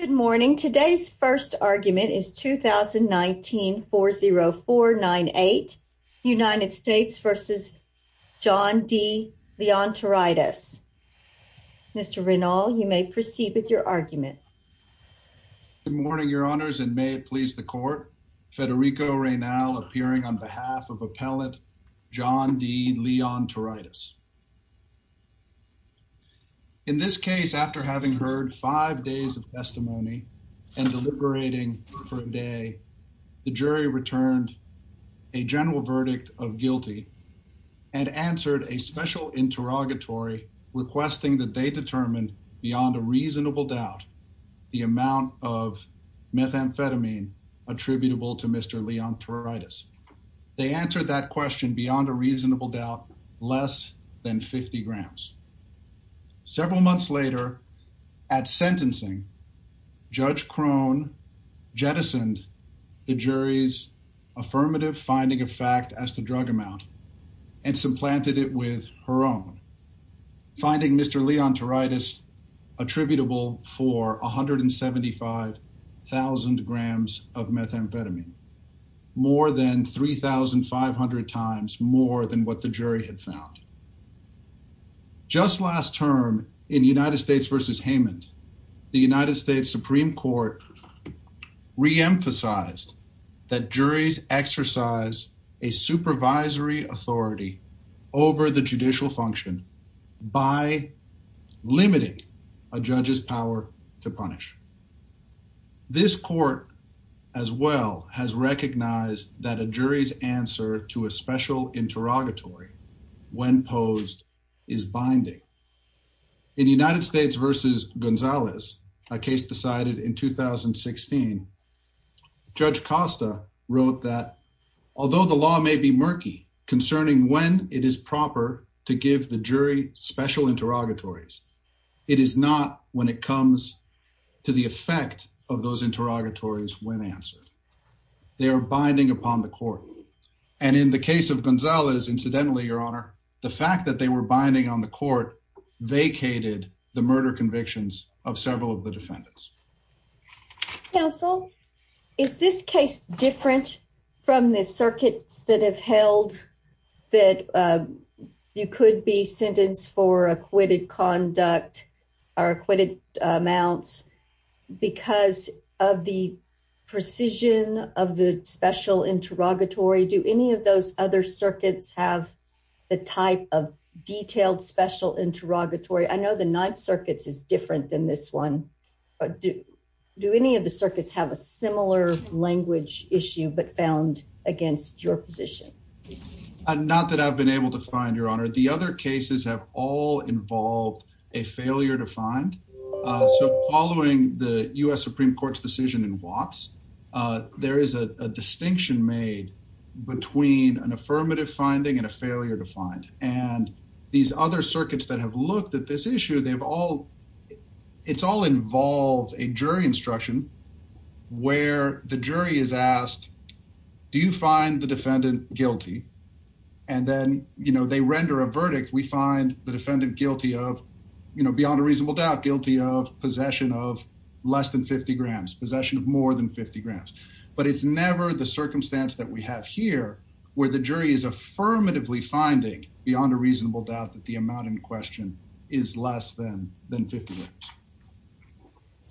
Good morning. Today's first argument is 2019-40498, United States v. John D. Leontaritis. Mr. Raynal, you may proceed with your argument. Good morning, Your Honors, and may it please the Court. Federico Raynal appearing on behalf of Appellant John D. Leontaritis. In this testimony and deliberating for a day, the jury returned a general verdict of guilty and answered a special interrogatory requesting that they determine beyond a reasonable doubt the amount of methamphetamine attributable to Mr. Leontaritis. They answered that question beyond a reasonable doubt less than 50 grams. Several months later, at sentencing, Judge Crone jettisoned the jury's affirmative finding of fact as to drug amount and supplanted it with her own, finding Mr. Leontaritis attributable for 175,000 grams of methamphetamine, more than 3,500 times more than what the jury had found. Just last term in United States v. Haymond, the United States Supreme Court reemphasized that juries exercise a supervisory authority over the judicial function by limiting a judge's power to punish. This court as well has recognized that a jury's answer to a special interrogatory when posed is binding. In United States v. Gonzalez, a case decided in 2016, Judge Costa wrote that although the law may be murky concerning when it is proper to give the jury special interrogatories, it is not when it comes to the effect of those interrogatories when answered. They are binding upon the court. And in the case of Gonzalez, incidentally, Your Honor, the fact that they were binding on the court vacated the murder convictions of several of the defendants. Counsel, is this case different from the circuits that have held that you could be because of the precision of the special interrogatory? Do any of those other circuits have the type of detailed special interrogatory? I know the Ninth Circuits is different than this one, but do any of the circuits have a similar language issue but found against your position? Not that I've been able to find, Your Honor. The other cases have all involved a failure to find. So following the U.S. Supreme Court's decision in Watts, there is a distinction made between an affirmative finding and a failure to find. And these other circuits that have looked at this issue, they've all, it's all involved a jury instruction where the jury is asked, do you find the defendant guilty? And then, you know, they render a verdict. We find the defendant guilty of, you know, beyond a reasonable doubt, guilty of possession of less than 50 grams, possession of more than 50 grams. But it's never the circumstance that we have here where the jury is affirmatively finding, beyond a reasonable doubt, that the amount in question is less than than 50 grams.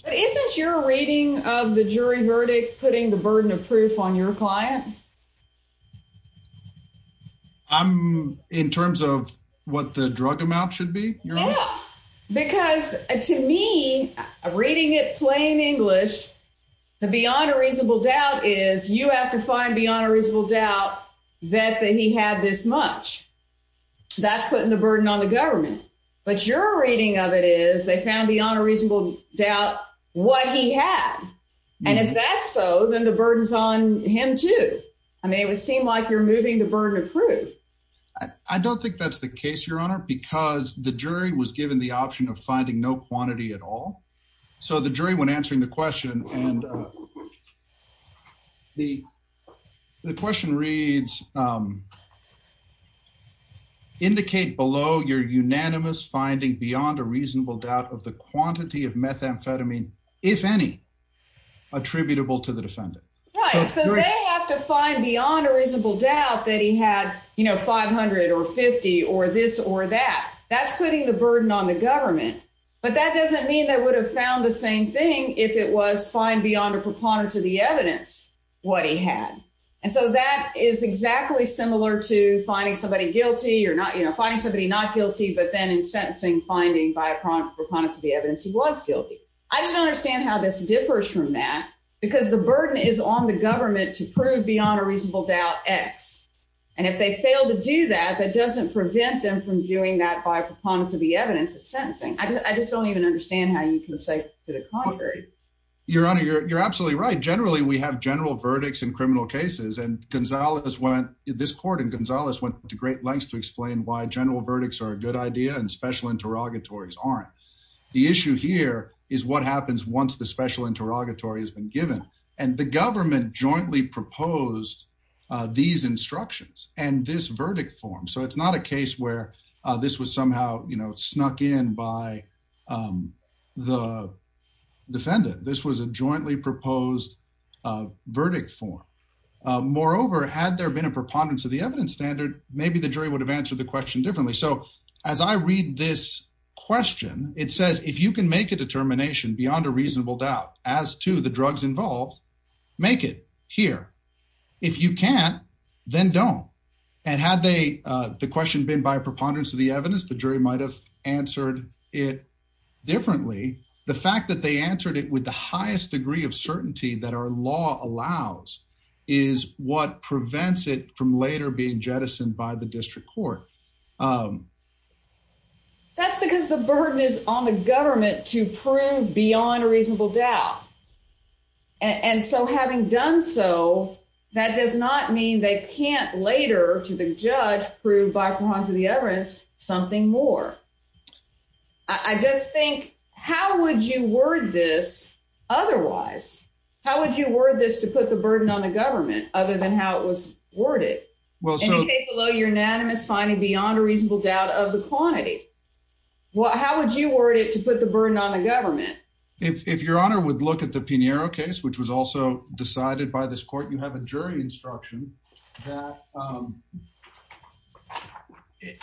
But isn't your rating of the jury verdict putting the burden of proof on your client? I'm, in terms of what the drug amount should be? Yeah, because to me, reading it plain English, the beyond a reasonable doubt is you have to find beyond a reasonable doubt that he had this much. That's putting the burden on the government. But your rating of it is they found beyond a reasonable doubt what he had. And if that's so, then the burden's on him too. I mean, it would seem like you're moving the burden of proof. I don't think that's the case, Your Honor, because the jury was given the option of finding no quantity at all. So the jury, when answering the question, and the question reads, indicate below your unanimous finding beyond a reasonable doubt of the quantity of methamphetamine, if any, attributable to the defendant. Right, so they have to find beyond a reasonable doubt that he had, you know, 500 or 50 or this or that. That's putting the burden on the government. But that doesn't mean they would have found the same thing if it was find beyond a preponderance of the evidence what he had. And so that is exactly similar to finding somebody guilty or not, you know, finding somebody not guilty, but then in sentencing, finding by a preponderance of the evidence. I just don't understand how this differs from that, because the burden is on the government to prove beyond a reasonable doubt X. And if they fail to do that, that doesn't prevent them from doing that by preponderance of the evidence in sentencing. I just don't even understand how you can say to the contrary. Your Honor, you're absolutely right. Generally, we have general verdicts in criminal cases, and this court and Gonzales went to great lengths to explain why general verdicts are a good idea and special interrogatories aren't. The issue here is what happens once the special interrogatory has been given and the government jointly proposed these instructions and this verdict form. So it's not a case where this was somehow, you know, snuck in by the defendant. This was a jointly proposed verdict form. Moreover, had there been a preponderance of the evidence standard, maybe the jury would have answered the question differently. So as I read this question, it says, If you can make a determination beyond a reasonable doubt as to the drugs involved, make it here. If you can't, then don't. And had they the question been by preponderance of the evidence, the jury might have answered it differently. The fact that they answered it with the highest degree of certainty that our law allows is what prevents it from later being to prove beyond a reasonable doubt. And so having done so, that does not mean they can't later, to the judge, prove by preponderance of the evidence something more. I just think, how would you word this otherwise? How would you word this to put the burden on the government other than how it was worded? It came below your unanimous finding beyond a reasonable doubt of the quantity. How would you word it to put the burden on the government? If your honor would look at the Pinheiro case, which was also decided by this court, you have a jury instruction that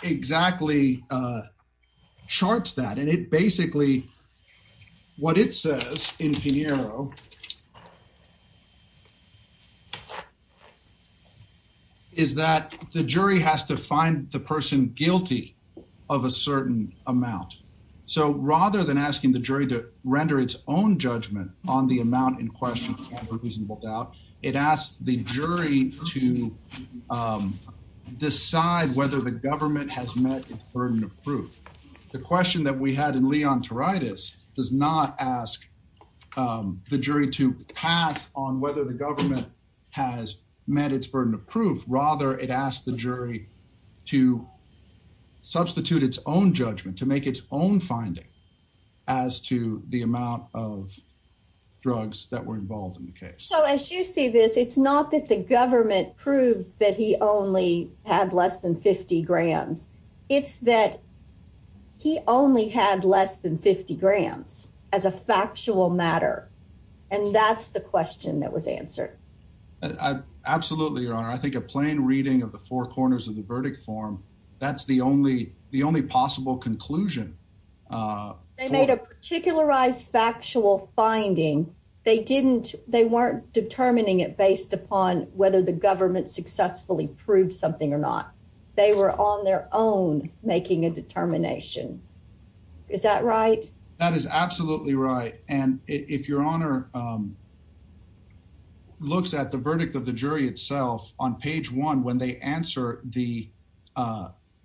exactly charts that. And it basically, what it says in Pinheiro is that the jury has to find the person guilty of a certain amount. So rather than asking the jury to render its own judgment on the amount in question of a reasonable doubt, it asks the jury to decide whether the government has met its burden of proof. The question that we had in does not ask the jury to pass on whether the government has met its burden of proof. Rather, it asked the jury to substitute its own judgment, to make its own finding as to the amount of drugs that were involved in the case. So as you see this, it's not that the government proved that he only had less than 50 grams. It's that he only had less than 50 grams as a factual matter. And that's the question that was answered. Absolutely, your honor. I think a plain reading of the four corners of the verdict form, that's the only possible conclusion. They made a particularized factual finding. They didn't, they weren't determining it based upon whether the government successfully proved something or not. They were on their own making a determination. Is that right? That is absolutely right. And if your honor looks at the verdict of the jury itself, on page one, when they answer the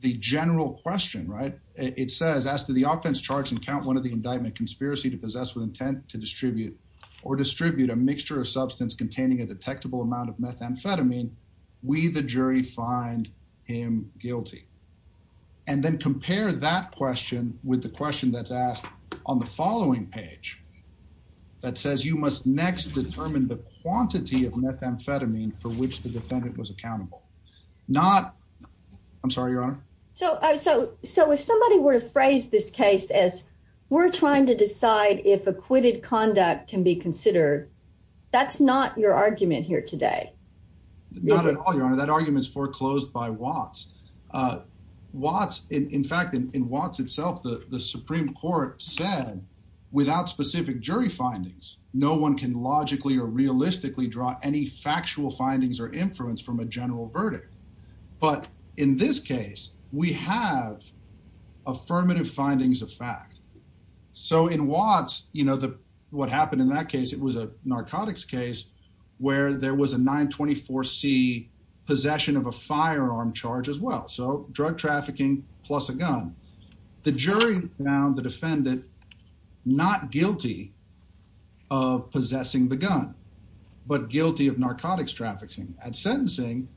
general question, right? It says, as to the offense charge and count one of the indictment conspiracy to possess with intent to distribute or distribute a mixture of substance containing a detectable amount of methamphetamine, we the jury find him guilty. And then compare that question with the question that's asked on the following page that says you must next determine the quantity of methamphetamine for which the defendant was accountable. Not, I'm sorry, your honor. So, so, so if somebody were to phrase this case as we're trying to decide if acquitted conduct can be considered, that's not your argument here today. Not at all, your honor. That argument is foreclosed by Watts. Watts, in fact, in Watts itself, the Supreme Court said without specific jury findings, no one can logically or realistically draw any factual findings or influence from a general case. We have affirmative findings of fact. So in Watts, you know, what happened in that case, it was a narcotics case where there was a 924 C possession of a firearm charge as well. So drug trafficking plus a gun. The jury found the defendant not guilty of possessing the gun, but guilty of narcotics trafficking at sentencing.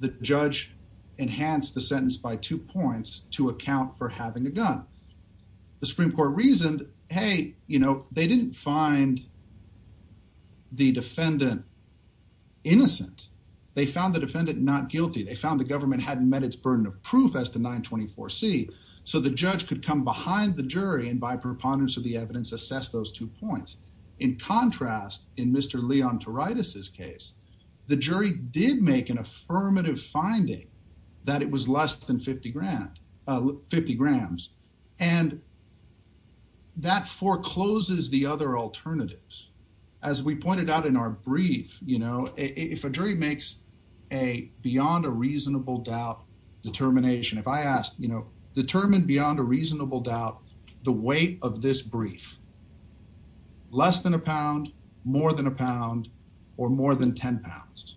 The judge enhanced the sentence by two points to account for having a gun. The Supreme Court reasoned, hey, you know, they didn't find the defendant innocent. They found the defendant not guilty. They found the government hadn't met its burden of proof as to 924 C. So the judge could come behind the jury and by contrast, in Mr Leon to write us his case, the jury did make an affirmative finding that it was less than 50 grand 50 grams and that forecloses the other alternatives. As we pointed out in our brief, you know, if a jury makes a beyond a reasonable doubt determination, if I asked, you know, determined beyond a reasonable doubt the weight of this brief less than a pound, more than a pound or more than 10 pounds.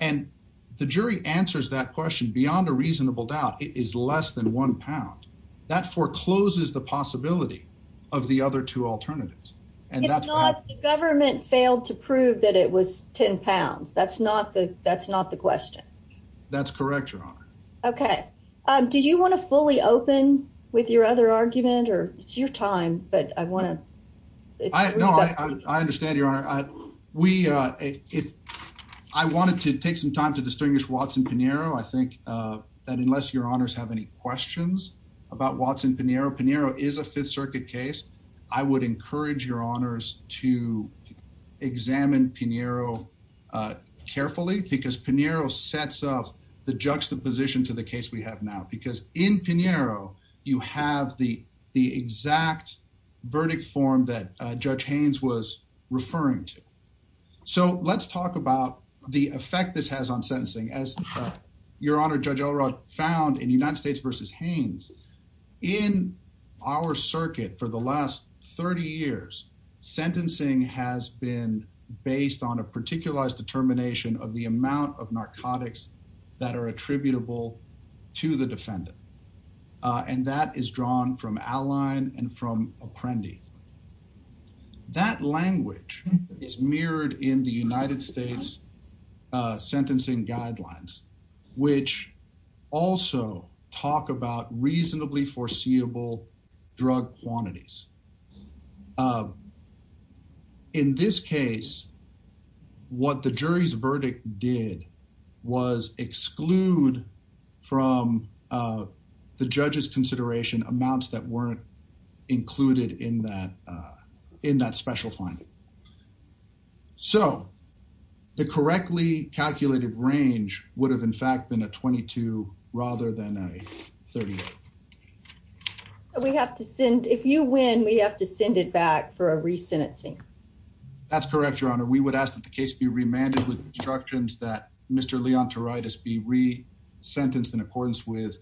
And the jury answers that question beyond a reasonable doubt, it is less than one pound that forecloses the possibility of the other two alternatives. And that's not the government failed to prove that it was 10 pounds. That's not the that's not the question. That's correct. Okay, did you want to fully open with your other argument or it's your time? But I want to I understand your honor. We if I wanted to take some time to distinguish Watson Pinero. I think that unless your honors have any questions about Watson Pinero, Pinero is a Fifth Circuit case. I would encourage your honors to examine Pinero carefully because Pinero sets up the juxtaposition to the case we have now because in Pinero, you have the exact verdict form that Judge Haynes was referring to. So let's talk about the effect this has on sentencing as your honor Judge Elrod found in United States versus Haynes in our circuit for the last 30 years, sentencing has been based on a particularized determination of the amount of that are attributable to the defendant and that is drawn from outline and from Apprendi. That language is mirrored in the United States sentencing guidelines, which also talk about reasonably foreseeable drug quantities. In this case, what the jury's verdict did was exclude from the judge's consideration amounts that weren't included in that special finding. So the correctly calculated range would have in fact been a 22 rather than a 38. So we have to send if you win, we have to send it back for a re-sentencing. That's correct, your honor. We would ask that the case be remanded with instructions that Mr. Leontoritis be re-sentenced in accordance with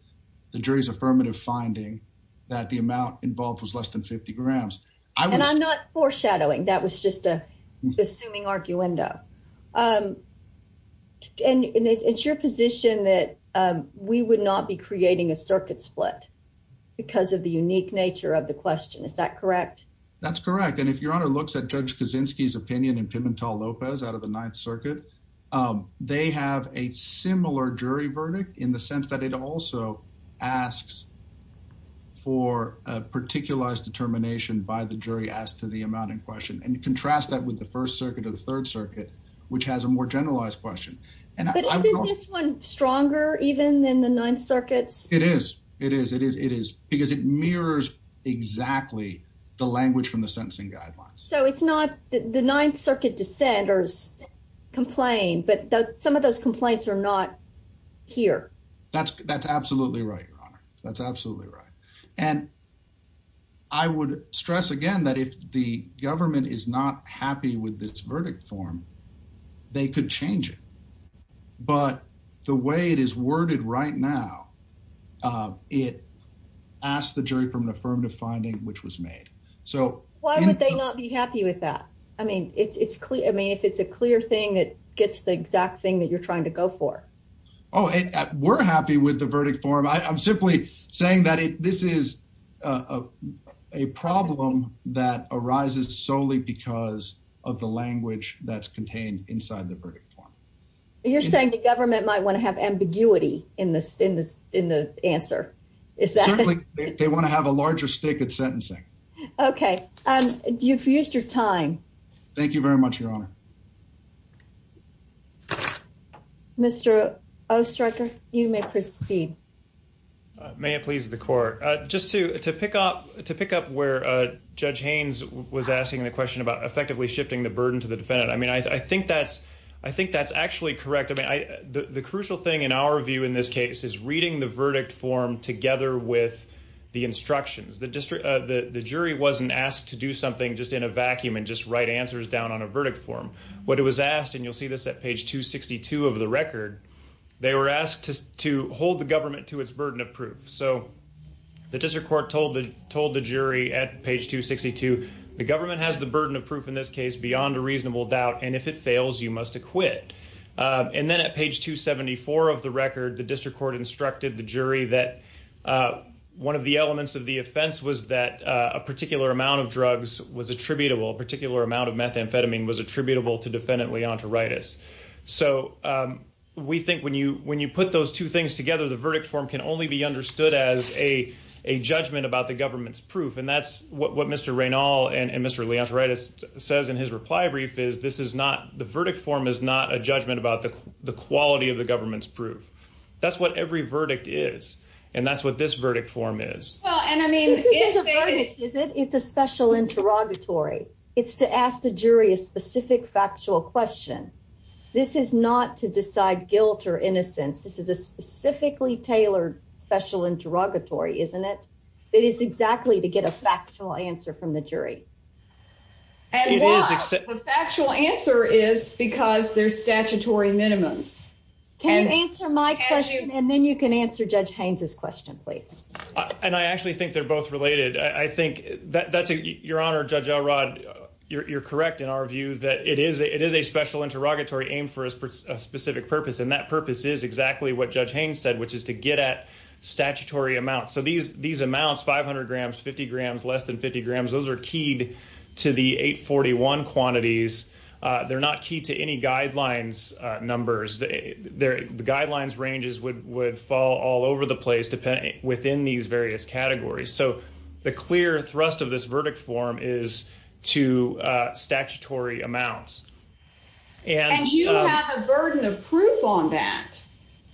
the jury's affirmative finding that the amount involved was less than 50 grams. And I'm not foreshadowing, that was just a assuming arguendo. And it's your position that we would not be creating a circuit split because of the unique nature of the question, is that correct? That's correct and if your honor looks at Judge Kaczynski's opinion in Pimentel-Lopez out of the Ninth Circuit, they have a similar jury verdict in the sense that it also asks for a particularized determination by the jury as to the amount in question and contrast that with the First Circuit of the Third Circuit, which has a more generalized question. But isn't this one stronger even than the Ninth Circuit's? It is, it is because it mirrors exactly the language from the sentencing guidelines. So it's not the Ninth Circuit dissenters complain, but some of those complaints are not here. That's absolutely right, your honor. That's absolutely right. And I would stress again that if the government is not happy with this verdict form, they could change it. But the way it is worded right now, it asks the jury from an affirmative finding which was made. So why would they not be happy with that? I mean, it's clear. I mean, if it's a clear thing, it gets the exact thing that you're trying to go for. Oh, we're happy with the verdict form. I'm simply saying that this is a problem that arises solely because of the language that's contained inside the verdict form. You're saying the government might want to have ambiguity in the answer. Certainly, they want to have a larger stake at sentencing. Okay. You've used your time. Thank you very much, your honor. Mr. Ostroker, you may proceed. May it please the court. Just to pick up where Judge Haynes was asking the question about effectively shifting the burden to the defendant. I mean, I think that's actually correct. I mean, the crucial thing in our view in this case is reading the verdict form together with the instructions. The jury wasn't asked to do something just in a vacuum and just write answers down on a verdict form. What it was asked, and you'll see this at page 262 of the record, they were asked to hold the government to its burden of proof. So the district court told the jury at page 262, the government has the burden of proof in this case beyond a reasonable doubt. And if it fails, you must acquit. And then at page 274 of the record, the district court instructed the jury that one of the elements of the offense was that a particular amount of drugs was attributable, a particular amount of methamphetamine was attributable to defendant Leontoritis. So we think when you put those two things together, the verdict form can only be understood as a judgment about the government's proof. And that's what Mr. Raynald and Mr. Leontoritis says in his reply brief is this is not the verdict form is not a judgment about the quality of the government's proof. That's what every verdict is. And that's what this verdict form is. It's a special interrogatory. It's to ask the jury a specific factual question. This is not to decide guilt or innocence. This is a specifically tailored special interrogatory, isn't it? It is exactly to get a factual answer from the jury. And the factual answer is because there's statutory minimums. Can you answer my question? And then you can answer Judge Haynes's question, please. And I actually think they're both related. I think that's your honor, Judge Elrod. You're correct in our view that it is a special interrogatory aimed for a specific purpose. And purpose is exactly what Judge Haynes said, which is to get at statutory amounts. So these amounts, 500 grams, 50 grams, less than 50 grams, those are keyed to the 841 quantities. They're not key to any guidelines numbers. The guidelines ranges would fall all over the place within these various categories. So the clear thrust of this verdict form is to statutory amounts. And you have a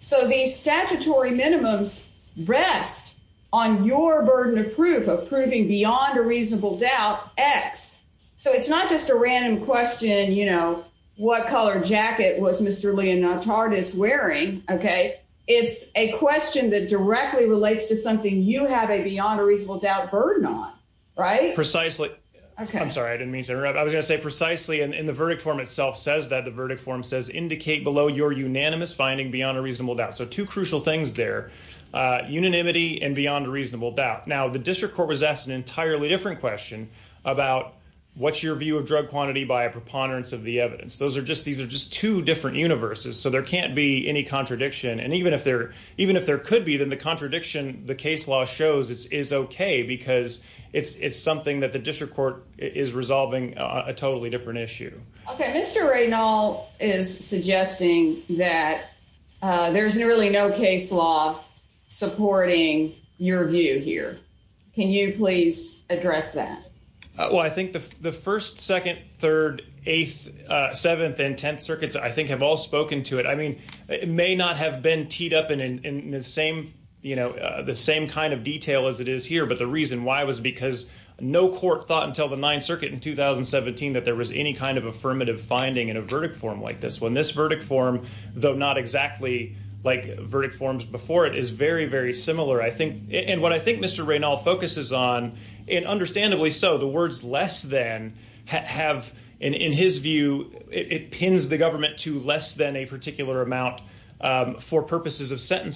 So these statutory minimums rest on your burden of proof, of proving beyond a reasonable doubt, X. So it's not just a random question, you know, what color jacket was Mr. Leon Notardis wearing, okay? It's a question that directly relates to something you have a beyond a reasonable doubt burden on, right? Precisely. I'm sorry, I didn't mean to interrupt. I was going to say precisely, in the verdict form itself says that the verdict form says indicate below your unanimous finding beyond a reasonable doubt. So two crucial things there, unanimity and beyond a reasonable doubt. Now, the district court was asked an entirely different question about what's your view of drug quantity by a preponderance of the evidence. These are just two different universes. So there can't be any contradiction. And even if there could be, then the contradiction, the case law is okay, because it's something that the district court is resolving a totally different issue. Okay. Mr. Reynold is suggesting that there's really no case law supporting your view here. Can you please address that? Well, I think the first, second, third, eighth, seventh, and 10th circuits, I think have all spoken to it. I mean, it may not have been teed up in the same, the same kind of detail as it is here. But the reason why was because no court thought until the ninth circuit in 2017, that there was any kind of affirmative finding in a verdict form like this one. This verdict form, though not exactly like verdict forms before it is very, very similar. And what I think Mr. Reynold focuses on, and understandably so, the words less than have, in his view, it pins the government to less than a particular amount for purposes of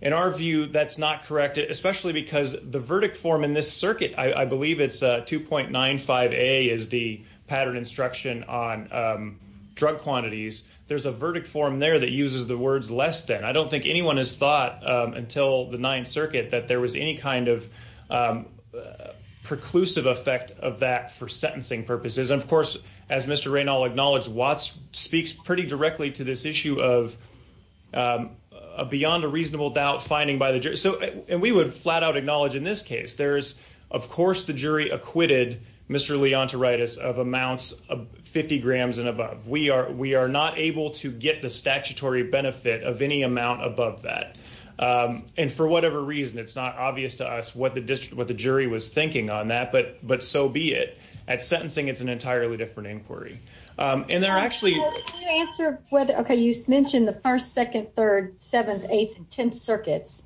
that's not correct. Especially because the verdict form in this circuit, I believe it's 2.95a is the pattern instruction on drug quantities. There's a verdict form there that uses the words less than. I don't think anyone has thought until the ninth circuit that there was any kind of preclusive effect of that for sentencing purposes. And of course, as Mr. Reynold acknowledged, Watts speaks pretty directly to this issue of beyond a reasonable doubt finding by the jury. So, and we would flat out acknowledge in this case, there's, of course, the jury acquitted Mr. Leontoritis of amounts of 50 grams and above. We are not able to get the statutory benefit of any amount above that. And for whatever reason, it's not obvious to us what the jury was thinking on that. But so be it. At sentencing, it's an entirely different inquiry. And there are actually- Can you answer whether, okay, you mentioned the first, second, third, seventh, eighth, and tenth circuits.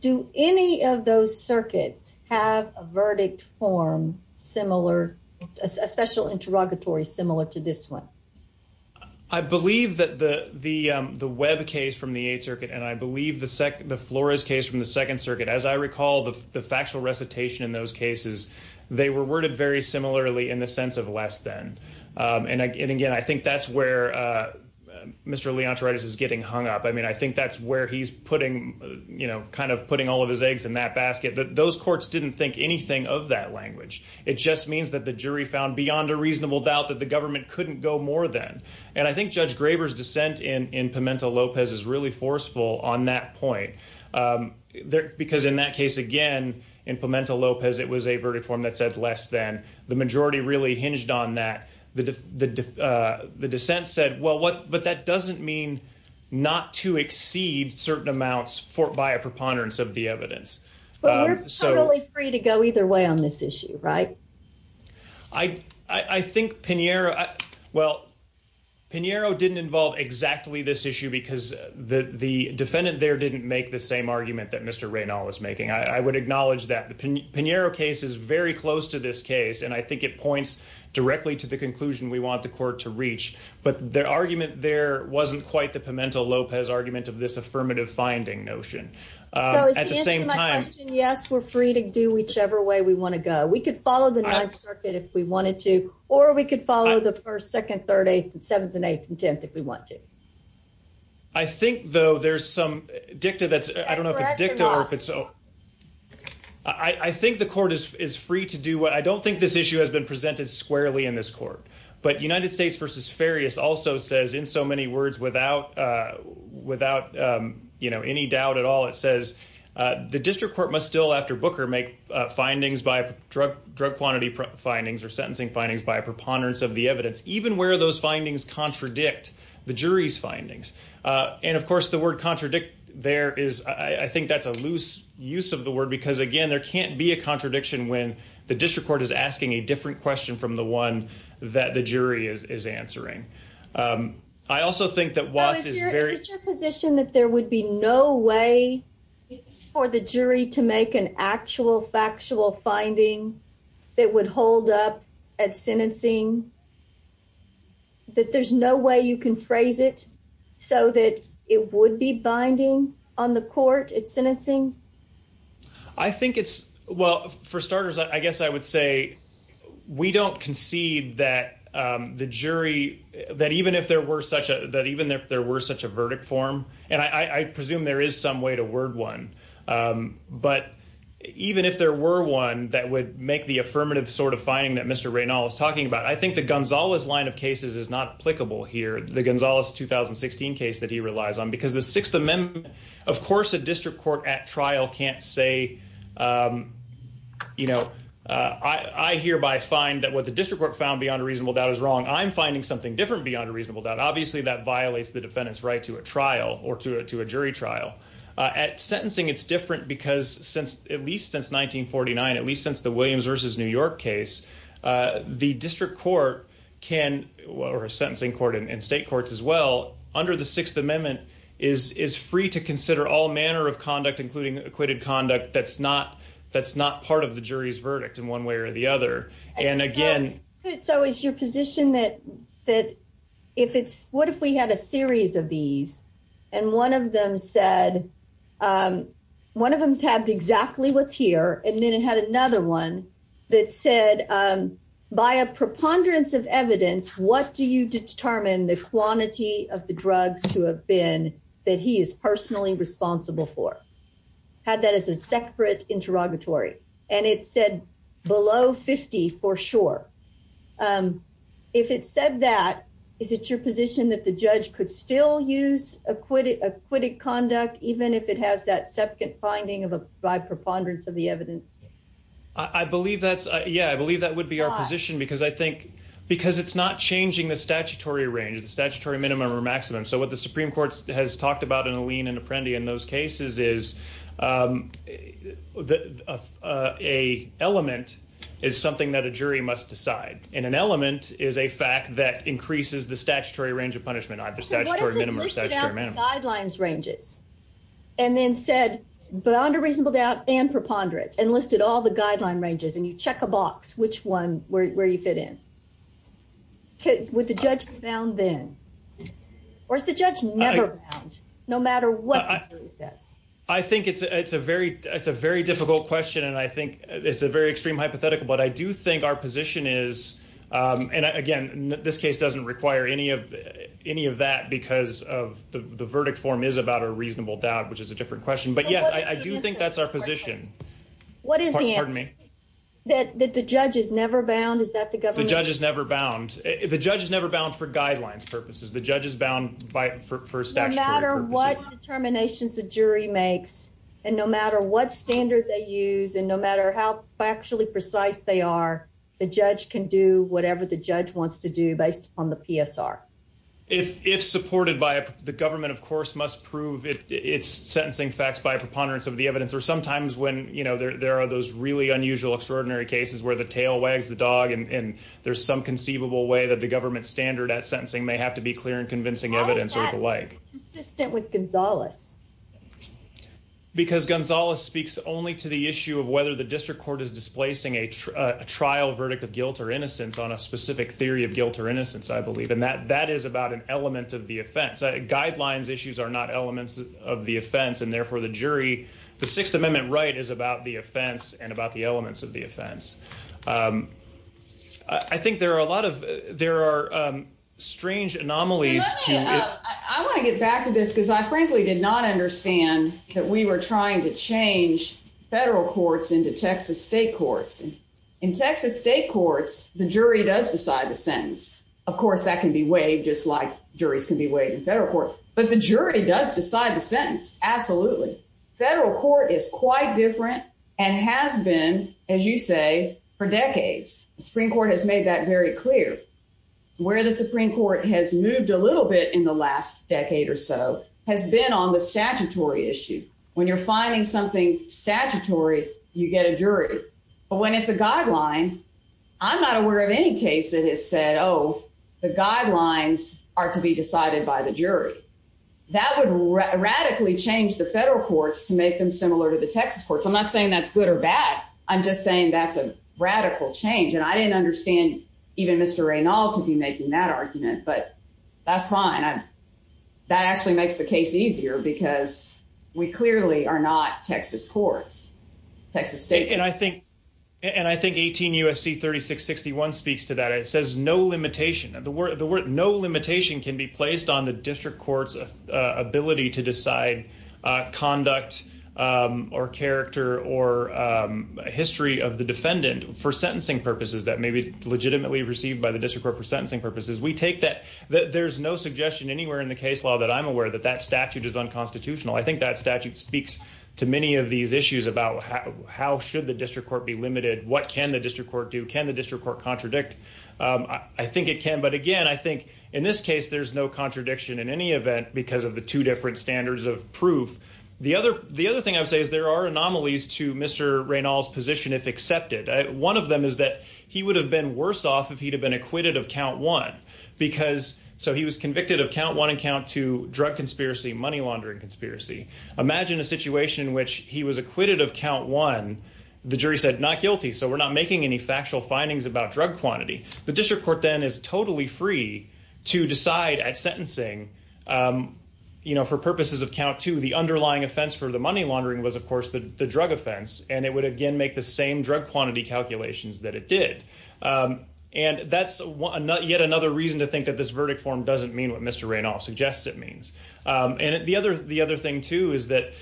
Do any of those circuits have a verdict form similar, a special interrogatory similar to this one? I believe that the Webb case from the eighth circuit, and I believe the Flores case from the second circuit, as I recall the factual recitation in those cases, they were worded very similarly in the sense of less than. And again, I think that's where Mr. Leontoritis is getting hung up. I mean, I think that's where he's putting, you know, kind of putting all of his eggs in that basket. Those courts didn't think anything of that language. It just means that the jury found beyond a reasonable doubt that the government couldn't go more than. And I think Judge Graber's dissent in Pimentel-Lopez is really forceful on that point. Because in that case, again, in Pimentel-Lopez, it was a verdict form that said less than. The majority really hinged on that. The dissent said, well, but that doesn't mean not to exceed certain amounts by a preponderance of the evidence. But you're totally free to go either way on this issue, right? I think Pinheiro, well, Pinheiro didn't involve exactly this issue because the defendant there didn't make the same argument that Mr. Reynolds was making. I would acknowledge that the Pinheiro case is very close to this case. And I think it points directly to the conclusion we want the court to reach. But the argument there wasn't quite the Pimentel-Lopez argument of this affirmative finding notion. At the same time. Yes, we're free to do whichever way we want to go. We could follow the Ninth Circuit if we wanted to, or we could follow the 1st, 2nd, 3rd, 8th and 7th and 8th and 10th if we want to. I think, though, there's some dicta that's, I don't know if it's dicta or if it's. I think the court is free to do what I don't think this issue has been presented squarely in this court. But United States v. Farias also says in so many words without without any doubt at all, it says the district court must still, after Booker, make findings by drug quantity findings or sentencing findings by a preponderance of the evidence, even where those findings contradict the jury's findings. And of course, the word contradict there is, I think that's a loose use of the word, because again, there can't be a contradiction when the district court is asking a different question from the one that the jury is answering. I also think that Watts is very. Position that there would be no way for the jury to make an actual factual finding that would hold up at sentencing. That there's no way you can phrase it so that it would be binding on the court at sentencing. I think it's well, for starters, I guess I would say we don't concede that the jury that even if there were such a that even if there were such a verdict form, and I presume there is some way to word one. But even if there were one that would make the affirmative sort of finding that Mr. Reynolds talking about, I think the Gonzalez line of cases is not applicable here. The Gonzalez 2016 case that he relies on because the Sixth Amendment, of course, a district court at trial can't say. You know, I hereby find that what the district court found beyond a reasonable doubt is wrong. I'm finding something different beyond a reasonable doubt. Obviously, that violates the defendant's right to a trial or to a jury trial at sentencing. It's different because since at least since 1949, at least since the Williams versus New York case, the district court can or a sentencing court in state courts as well under the Sixth Amendment is free to consider all manner of conduct, including acquitted conduct. That's not that's not part of the jury's that if it's what if we had a series of these and one of them said one of them had exactly what's here and then it had another one that said by a preponderance of evidence, what do you determine the quantity of the drugs to have been that he is personally responsible for? Had that as a separate interrogatory and it said below 50 for sure. If it said that, is it your position that the judge could still use acquitted, acquitted conduct, even if it has that second finding of a by preponderance of the evidence? I believe that's yeah, I believe that would be our position because I think because it's not changing the statutory range, the statutory minimum or maximum. So what the Supreme Court has talked about in Alene and Apprendi in those cases is. A element is something that a jury must decide in an element is a fact that increases the statutory range of punishment. I have the statutory minimum guidelines ranges. And then said beyond a reasonable doubt and preponderance enlisted all the guideline ranges and you check a box which one where you fit in. With the judge found then. Or is the judge never found no matter what he says? I think it's a very. It's a very difficult question and I think it's a very extreme hypothetical, but I do think our position is. And again, this case doesn't require any of any of that because of the verdict form is about a reasonable doubt, which is a different question. But yes, I do think that's our position. What is the army that the judge is never bound? Is that the government judges never bound? The judge is never bound for guidelines purposes. The judge is bound by for statutory matter what determinations the jury makes and no matter what standard they use and no matter how factually precise they are, the judge can do whatever the judge wants to do based on the PSR. If supported by the government, of course, must prove its sentencing facts by preponderance of the evidence, or sometimes when you know there are those really unusual, extraordinary cases where the tail wags the dog and there's some conceivable way that the government standard at sentencing may have to be clear and convincing evidence or the like. Because Gonzalez speaks only to the issue of whether the district court is displacing a trial verdict of guilt or innocence on a specific theory of guilt or innocence, I believe, and that that is about an element of the offense. Guidelines issues are not elements of the offense and therefore the jury. The Sixth Amendment right is about the offense and about the elements of the offense. I think there are a lot of there are strange anomalies. I want to get back to this because I frankly did not understand that we were trying to change federal courts into Texas state courts. In Texas state courts, the jury does decide the sentence. Of course, that can be waived just like juries can be waived in federal court, but the jury does decide the sentence. Absolutely. Federal court is quite different and has been, as you say, for decades. The Supreme Court has made that very clear. Where the Supreme Court has moved a little bit in the last decade or so has been on the statutory issue. When you're finding something statutory, you get a jury. But when it's a guideline, I'm not aware of any case that has said, oh, the guidelines are to be decided by the jury. That would radically change the federal courts to make them similar to the Texas courts. I'm not saying that's good or bad. I'm just saying that's a radical change. I didn't understand even Mr. Raynald to be making that argument, but that's fine. That actually makes the case easier because we clearly are not Texas courts, Texas state courts. I think 18 U.S.C. 3661 speaks to that. It says no limitation. The word no limitation can be placed on the district court's ability to a history of the defendant for sentencing purposes that may be legitimately received by the district court for sentencing purposes. We take that. There's no suggestion anywhere in the case law that I'm aware that that statute is unconstitutional. I think that statute speaks to many of these issues about how should the district court be limited? What can the district court do? Can the district court contradict? I think it can. But again, I think in this case, there's no contradiction in any event because of the two different standards of proof. The other thing I would say is there are anomalies to Mr. Raynald's position if accepted. One of them is that he would have been worse off if he'd have been acquitted of count one. So he was convicted of count one and count two drug conspiracy, money laundering conspiracy. Imagine a situation in which he was acquitted of count one. The jury said not guilty. So we're not making any factual findings about drug quantity. The district court then is totally free to decide at sentencing for purposes of count two. The underlying offense for the money laundering was, of course, the drug offense. And it would again make the same drug quantity calculations that it did. And that's yet another reason to think that this verdict form doesn't mean what Mr. Raynald suggests it means. And the other thing, too, is that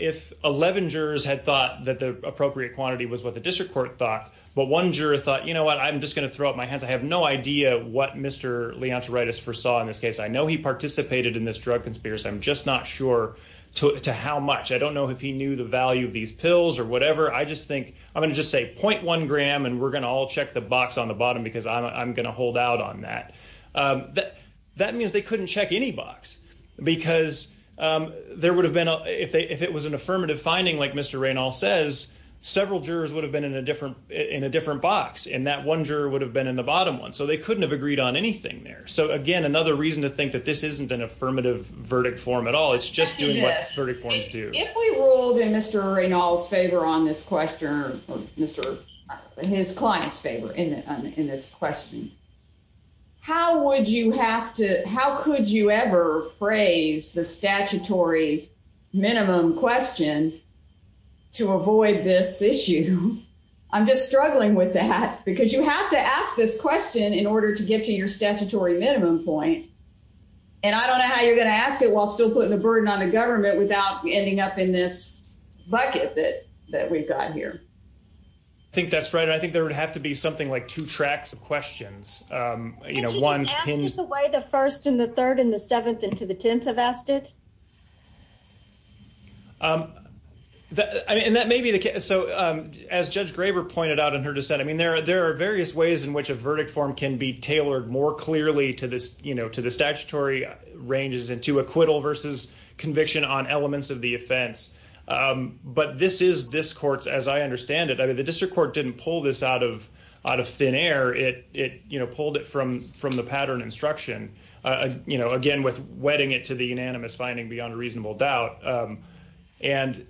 if 11 jurors had thought that the appropriate quantity was what the district court thought, but one juror thought, you know what, I'm just going to throw up my hands. I have no idea what Mr. Leontoritis foresaw in this case. I know he participated in this drug conspiracy. I'm just not sure to how much. I don't know if he knew the value of these pills or whatever. I just think I'm going to just say point one gram and we're going to all check the box on the bottom because I'm going to hold out on that. That means they couldn't check any box because there would have been if it was an affirmative finding, like Mr. Raynald says, several jurors would have been in a different box. And that one juror would have been in the bottom one. So they couldn't have agreed on anything there. So again, another reason to think that this isn't an affirmative verdict form at all. It's just doing what verdict forms do. If we ruled in Mr. Raynald's favor on this question, or his client's favor in this question, how would you have to, how could you ever phrase the statutory minimum question to avoid this issue? I'm just struggling with that because you have to ask this question in order to get to your statutory minimum point. And I don't know how you're going to ask it while still putting the burden on the government without ending up in this bucket that we've got here. I think that's right. I think there would have to be something like two tracks of questions. You know, one, just the way the first and the third and the seventh and to the tenth have asked it. And that may be the case. So as Judge Graber pointed out in her dissent, I mean, there are various ways in which a verdict form can be tailored more clearly to this, you know, to the statutory ranges and to acquittal versus conviction on elements of the offense. But this is this court's, as I understand it, I mean, the district court didn't pull this out of thin air. It, you know, pulled it from the pattern instruction, you know, again, with wetting it to the unanimous finding beyond reasonable doubt. And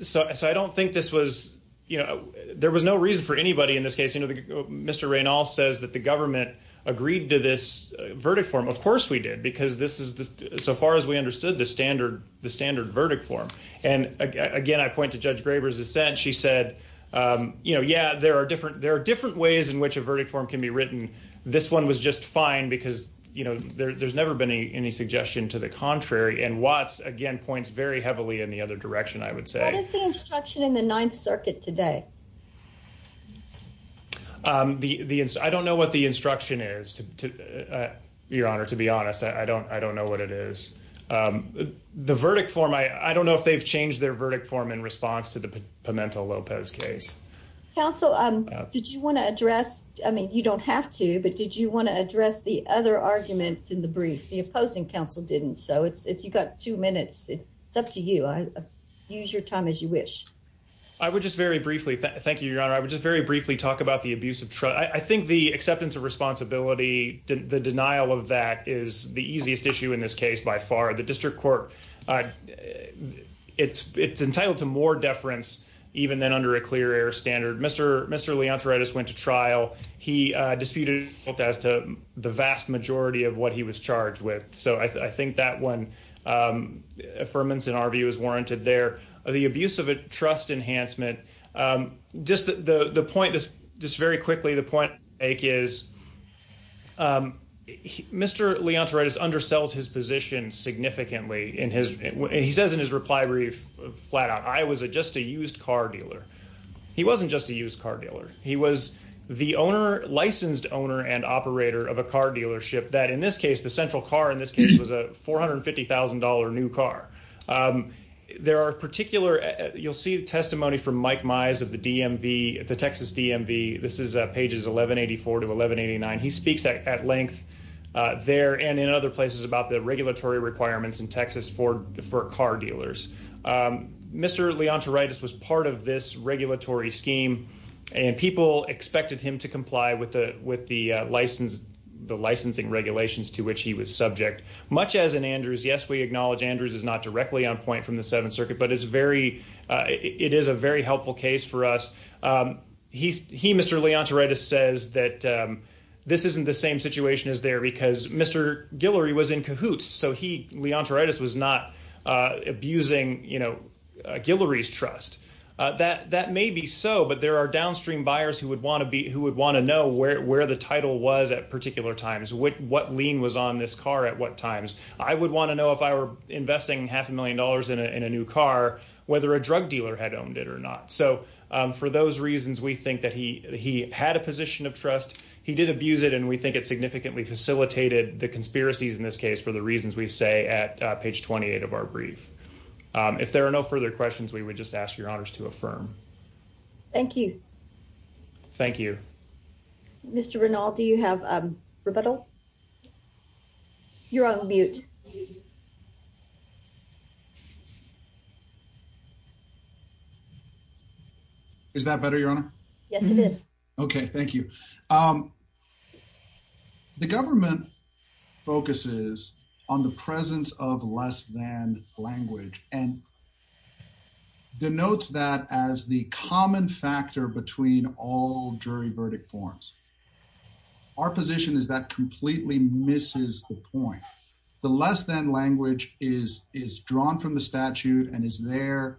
so I don't think this was, you know, there was no reason for anybody in this case. You know, Mr. Raynall says that the government agreed to this verdict form. Of course we did, because this is, so far as we understood, the standard verdict form. And again, I point to Judge Graber's dissent. She said, you know, yeah, there are different ways in which a verdict form can be written. This one was just fine because, you know, there's never been any suggestion to the contrary. And Watts, again, points very heavily in the other direction, I would say. What is the instruction in the Ninth Circuit today? I don't know what the instruction is, Your Honor, to be honest. I don't know what it is. The verdict form, I don't know if they've changed their verdict form in response to the I mean, you don't have to, but did you want to address the other arguments in the brief? The opposing counsel didn't. So if you've got two minutes, it's up to you. Use your time as you wish. I would just very briefly, thank you, Your Honor. I would just very briefly talk about the abuse of trust. I think the acceptance of responsibility, the denial of that is the easiest issue in this case by far. The district court, it's entitled to more deference even than under a clear air trial. He disputed as to the vast majority of what he was charged with. So I think that one affirmance in our view is warranted there. The abuse of trust enhancement, just the point this just very quickly, the point is Mr. Leontoritis undersells his position significantly in his. He says in his reply brief flat out, I was just a used car dealer. He wasn't just a used car dealer. He was the owner, licensed owner and operator of a car dealership that in this case, the central car in this case was a $450,000 new car. There are particular, you'll see testimony from Mike Mize of the DMV, the Texas DMV. This is pages 1184 to 1189. He speaks at length there and in other places about the regulatory requirements in Texas for car dealers. Mr. Leontoritis was part of this regulatory scheme and people expected him to comply with the licensing regulations to which he was subject. Much as in Andrews, yes, we acknowledge Andrews is not directly on point from the Seventh Circuit, but it is a very helpful case for us. He, Mr. Leontoritis says that this isn't the same situation as there because Mr. Guillory was in cahoots. He, Leontoritis was not abusing Guillory's trust. That may be so, but there are downstream buyers who would want to know where the title was at particular times, what lien was on this car at what times. I would want to know if I were investing half a million dollars in a new car, whether a drug dealer had owned it or not. For those reasons, we think that he had a position of trust. He did abuse it and we the conspiracies in this case for the reasons we say at page 28 of our brief. If there are no further questions, we would just ask your honors to affirm. Thank you. Thank you. Mr. Renald, do you have a rebuttal? You're on mute. Is that better, Your Honor? Yes, it is. Okay, thank you. Um, the government focuses on the presence of less than language and denotes that as the common factor between all jury verdict forms. Our position is that completely misses the point. The less than language is drawn from the statute and is there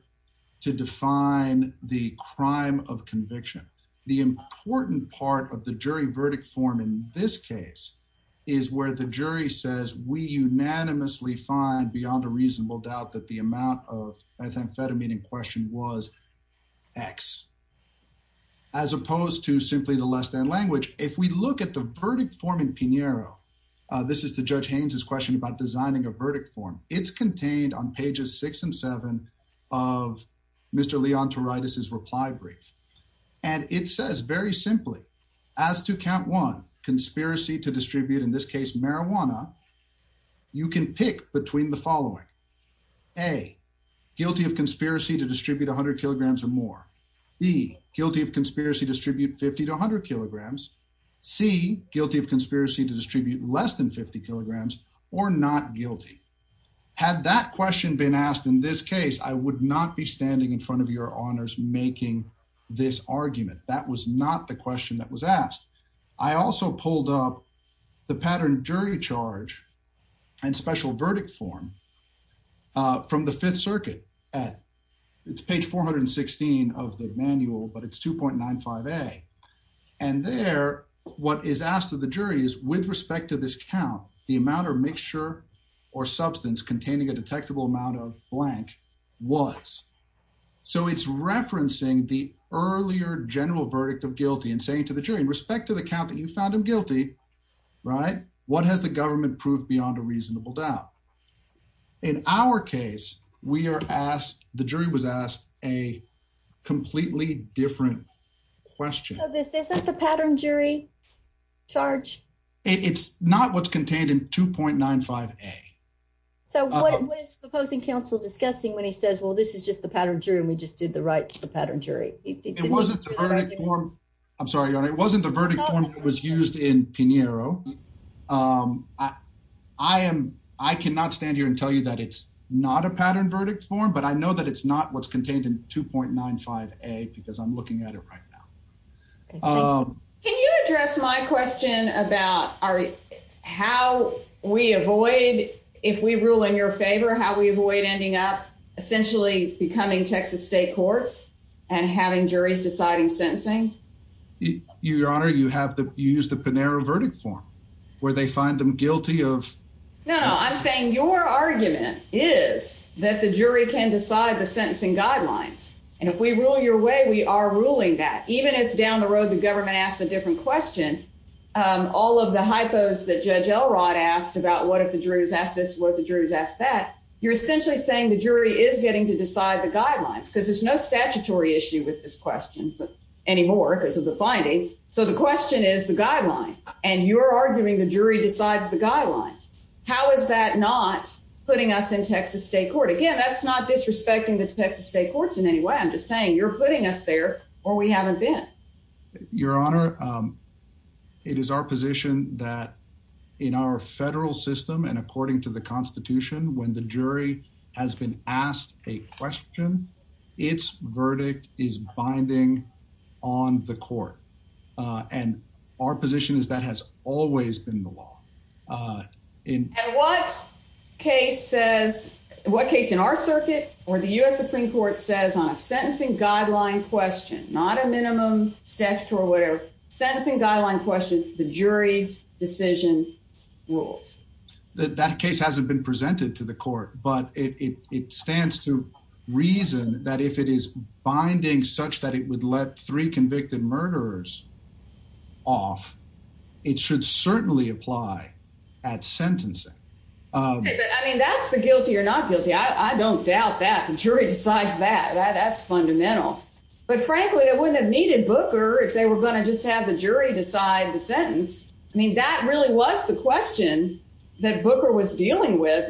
to define the crime of conviction. The important part of the jury verdict form in this case is where the jury says we unanimously find beyond a reasonable doubt that the amount of I think fed a meeting question was X as opposed to simply the less than language. If we look at the verdict form in Pinheiro, this is the judge Haines's question about designing a verdict form. It's contained on pages six and seven of Mr. Leontoritis's reply brief. And it says very simply, as to count one conspiracy to distribute in this case marijuana, you can pick between the following. A guilty of conspiracy to distribute 100 kilograms or more. B guilty of conspiracy distribute 50 to 100 kilograms. C guilty of conspiracy to distribute less than 50 kilograms or not guilty. Had that question been asked in this case, I would not be standing in front of your honors making this argument. That was not the question that was asked. I also pulled up the pattern jury charge and special verdict form from the Fifth Circuit at it's page 416 of the manual, but it's 2.95 a and there what is asked of the jury is with respect to this count, the amount of mixture or substance containing a detectable amount of blank was. So it's referencing the earlier general verdict of guilty and saying to the jury in respect to the count that you found him guilty, right? What has the government proved beyond a reasonable doubt? In our case, we are asked, the jury was asked a completely different question. So this isn't the pattern jury charge? It's not what's contained in 2.95 a. So what is proposing counsel discussing when he says, well, this is just the pattern jury and we just did the right to the pattern jury. I'm sorry, it wasn't the verdict form that was used in Pinheiro. I am. I cannot stand here and tell you that it's not a pattern verdict form, but I know that it's not what's contained in 2.95 a because I'm looking at it right now. Can you address my question about how we avoid if we rule in your favor, how we avoid ending up essentially becoming Texas state courts and having juries deciding sentencing? Your Honor, you have to use the Pinheiro verdict form where they find them guilty of. No, no, I'm saying your argument is that the jury can decide the sentencing guidelines. And if we rule your way, we are ruling that even if down the road, the government asked a different question. All of the hypos that Judge Elrod asked about what if the jurors asked this, what the jurors asked that you're essentially saying the jury is getting to decide the guidelines because there's no statutory issue with this question anymore because of the finding. So the question is the guideline and you're arguing the jury decides the guidelines. How is that not putting us in Texas state court? Again, that's not disrespecting the Texas state courts in any way. I'm just saying you're putting us there or we haven't been. Your Honor, it is our position that in our federal system and according to the Constitution, when the jury has been asked a question, its verdict is binding on the court. And our position is that has always been the law. And what case says, what case in our circuit or the U.S. Supreme Court says on a sentencing guideline question, not a minimum statute or whatever, sentencing guideline question, the jury's decision rules. That case hasn't been presented to the court, but it stands to reason that if it is binding such that it would let three convicted murderers off, it should certainly apply at sentencing. I mean, that's the guilty or not guilty. I don't doubt that the jury decides that. That's fundamental. But frankly, I wouldn't have needed Booker if they were going to just have the jury decide the sentence. I mean, that really was the question that Booker was dealing with.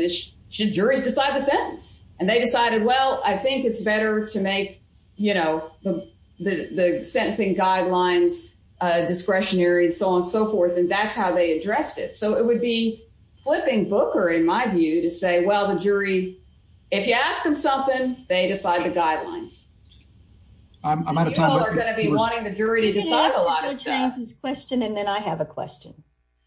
Should juries decide the sentence? And they decided, well, I think it's better to make, you know, the sentencing guidelines discretionary and so on and so forth, and that's how they addressed it. So it would be flipping Booker, in my view, to say, well, the jury, if you ask them something, they decide the guidelines. I'm out of time. You all are going to be wanting the jury to decide a lot of stuff. You can ask a good chances question and then I have a question.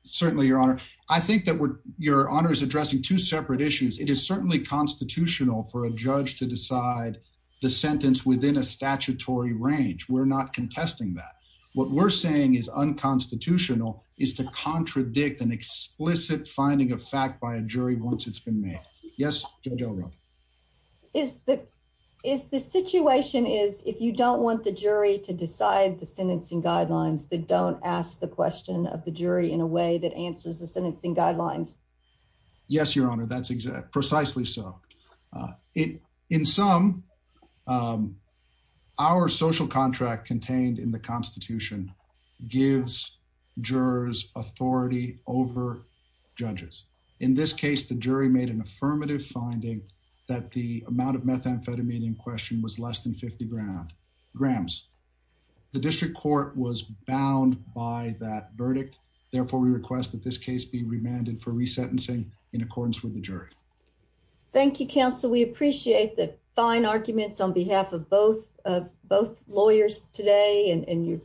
Certainly, Your Honor. I think that Your Honor is addressing two separate issues. It is certainly constitutional for a judge to decide the sentence within a statutory range. We're not contesting that. What we're saying is unconstitutional is to contradict an explicit finding of fact by a jury once it's been made. Yes, Judge O'Rourke. Is the situation is if you don't want the jury to decide the sentencing guidelines, that don't ask the question of the jury in a way that answers the sentencing guidelines? Yes, Your Honor, that's exactly precisely so. In some, our social contract contained in the Constitution gives jurors authority over judges. In this case, the jury made an affirmative finding that the amount of methamphetamine in question was less than 50 grams. The district court was bound by that sentencing in accordance with the jury. Thank you, counsel. We appreciate the fine arguments on behalf of both lawyers today and you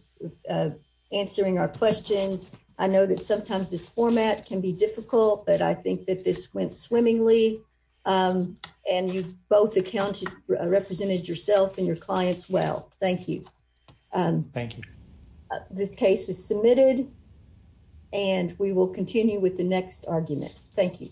answering our questions. I know that sometimes this format can be difficult, but I think that this went swimmingly and you both accounted represented yourself and your clients well. Thank you. Thank you. This case is submitted and we will continue with the next argument. Thank you.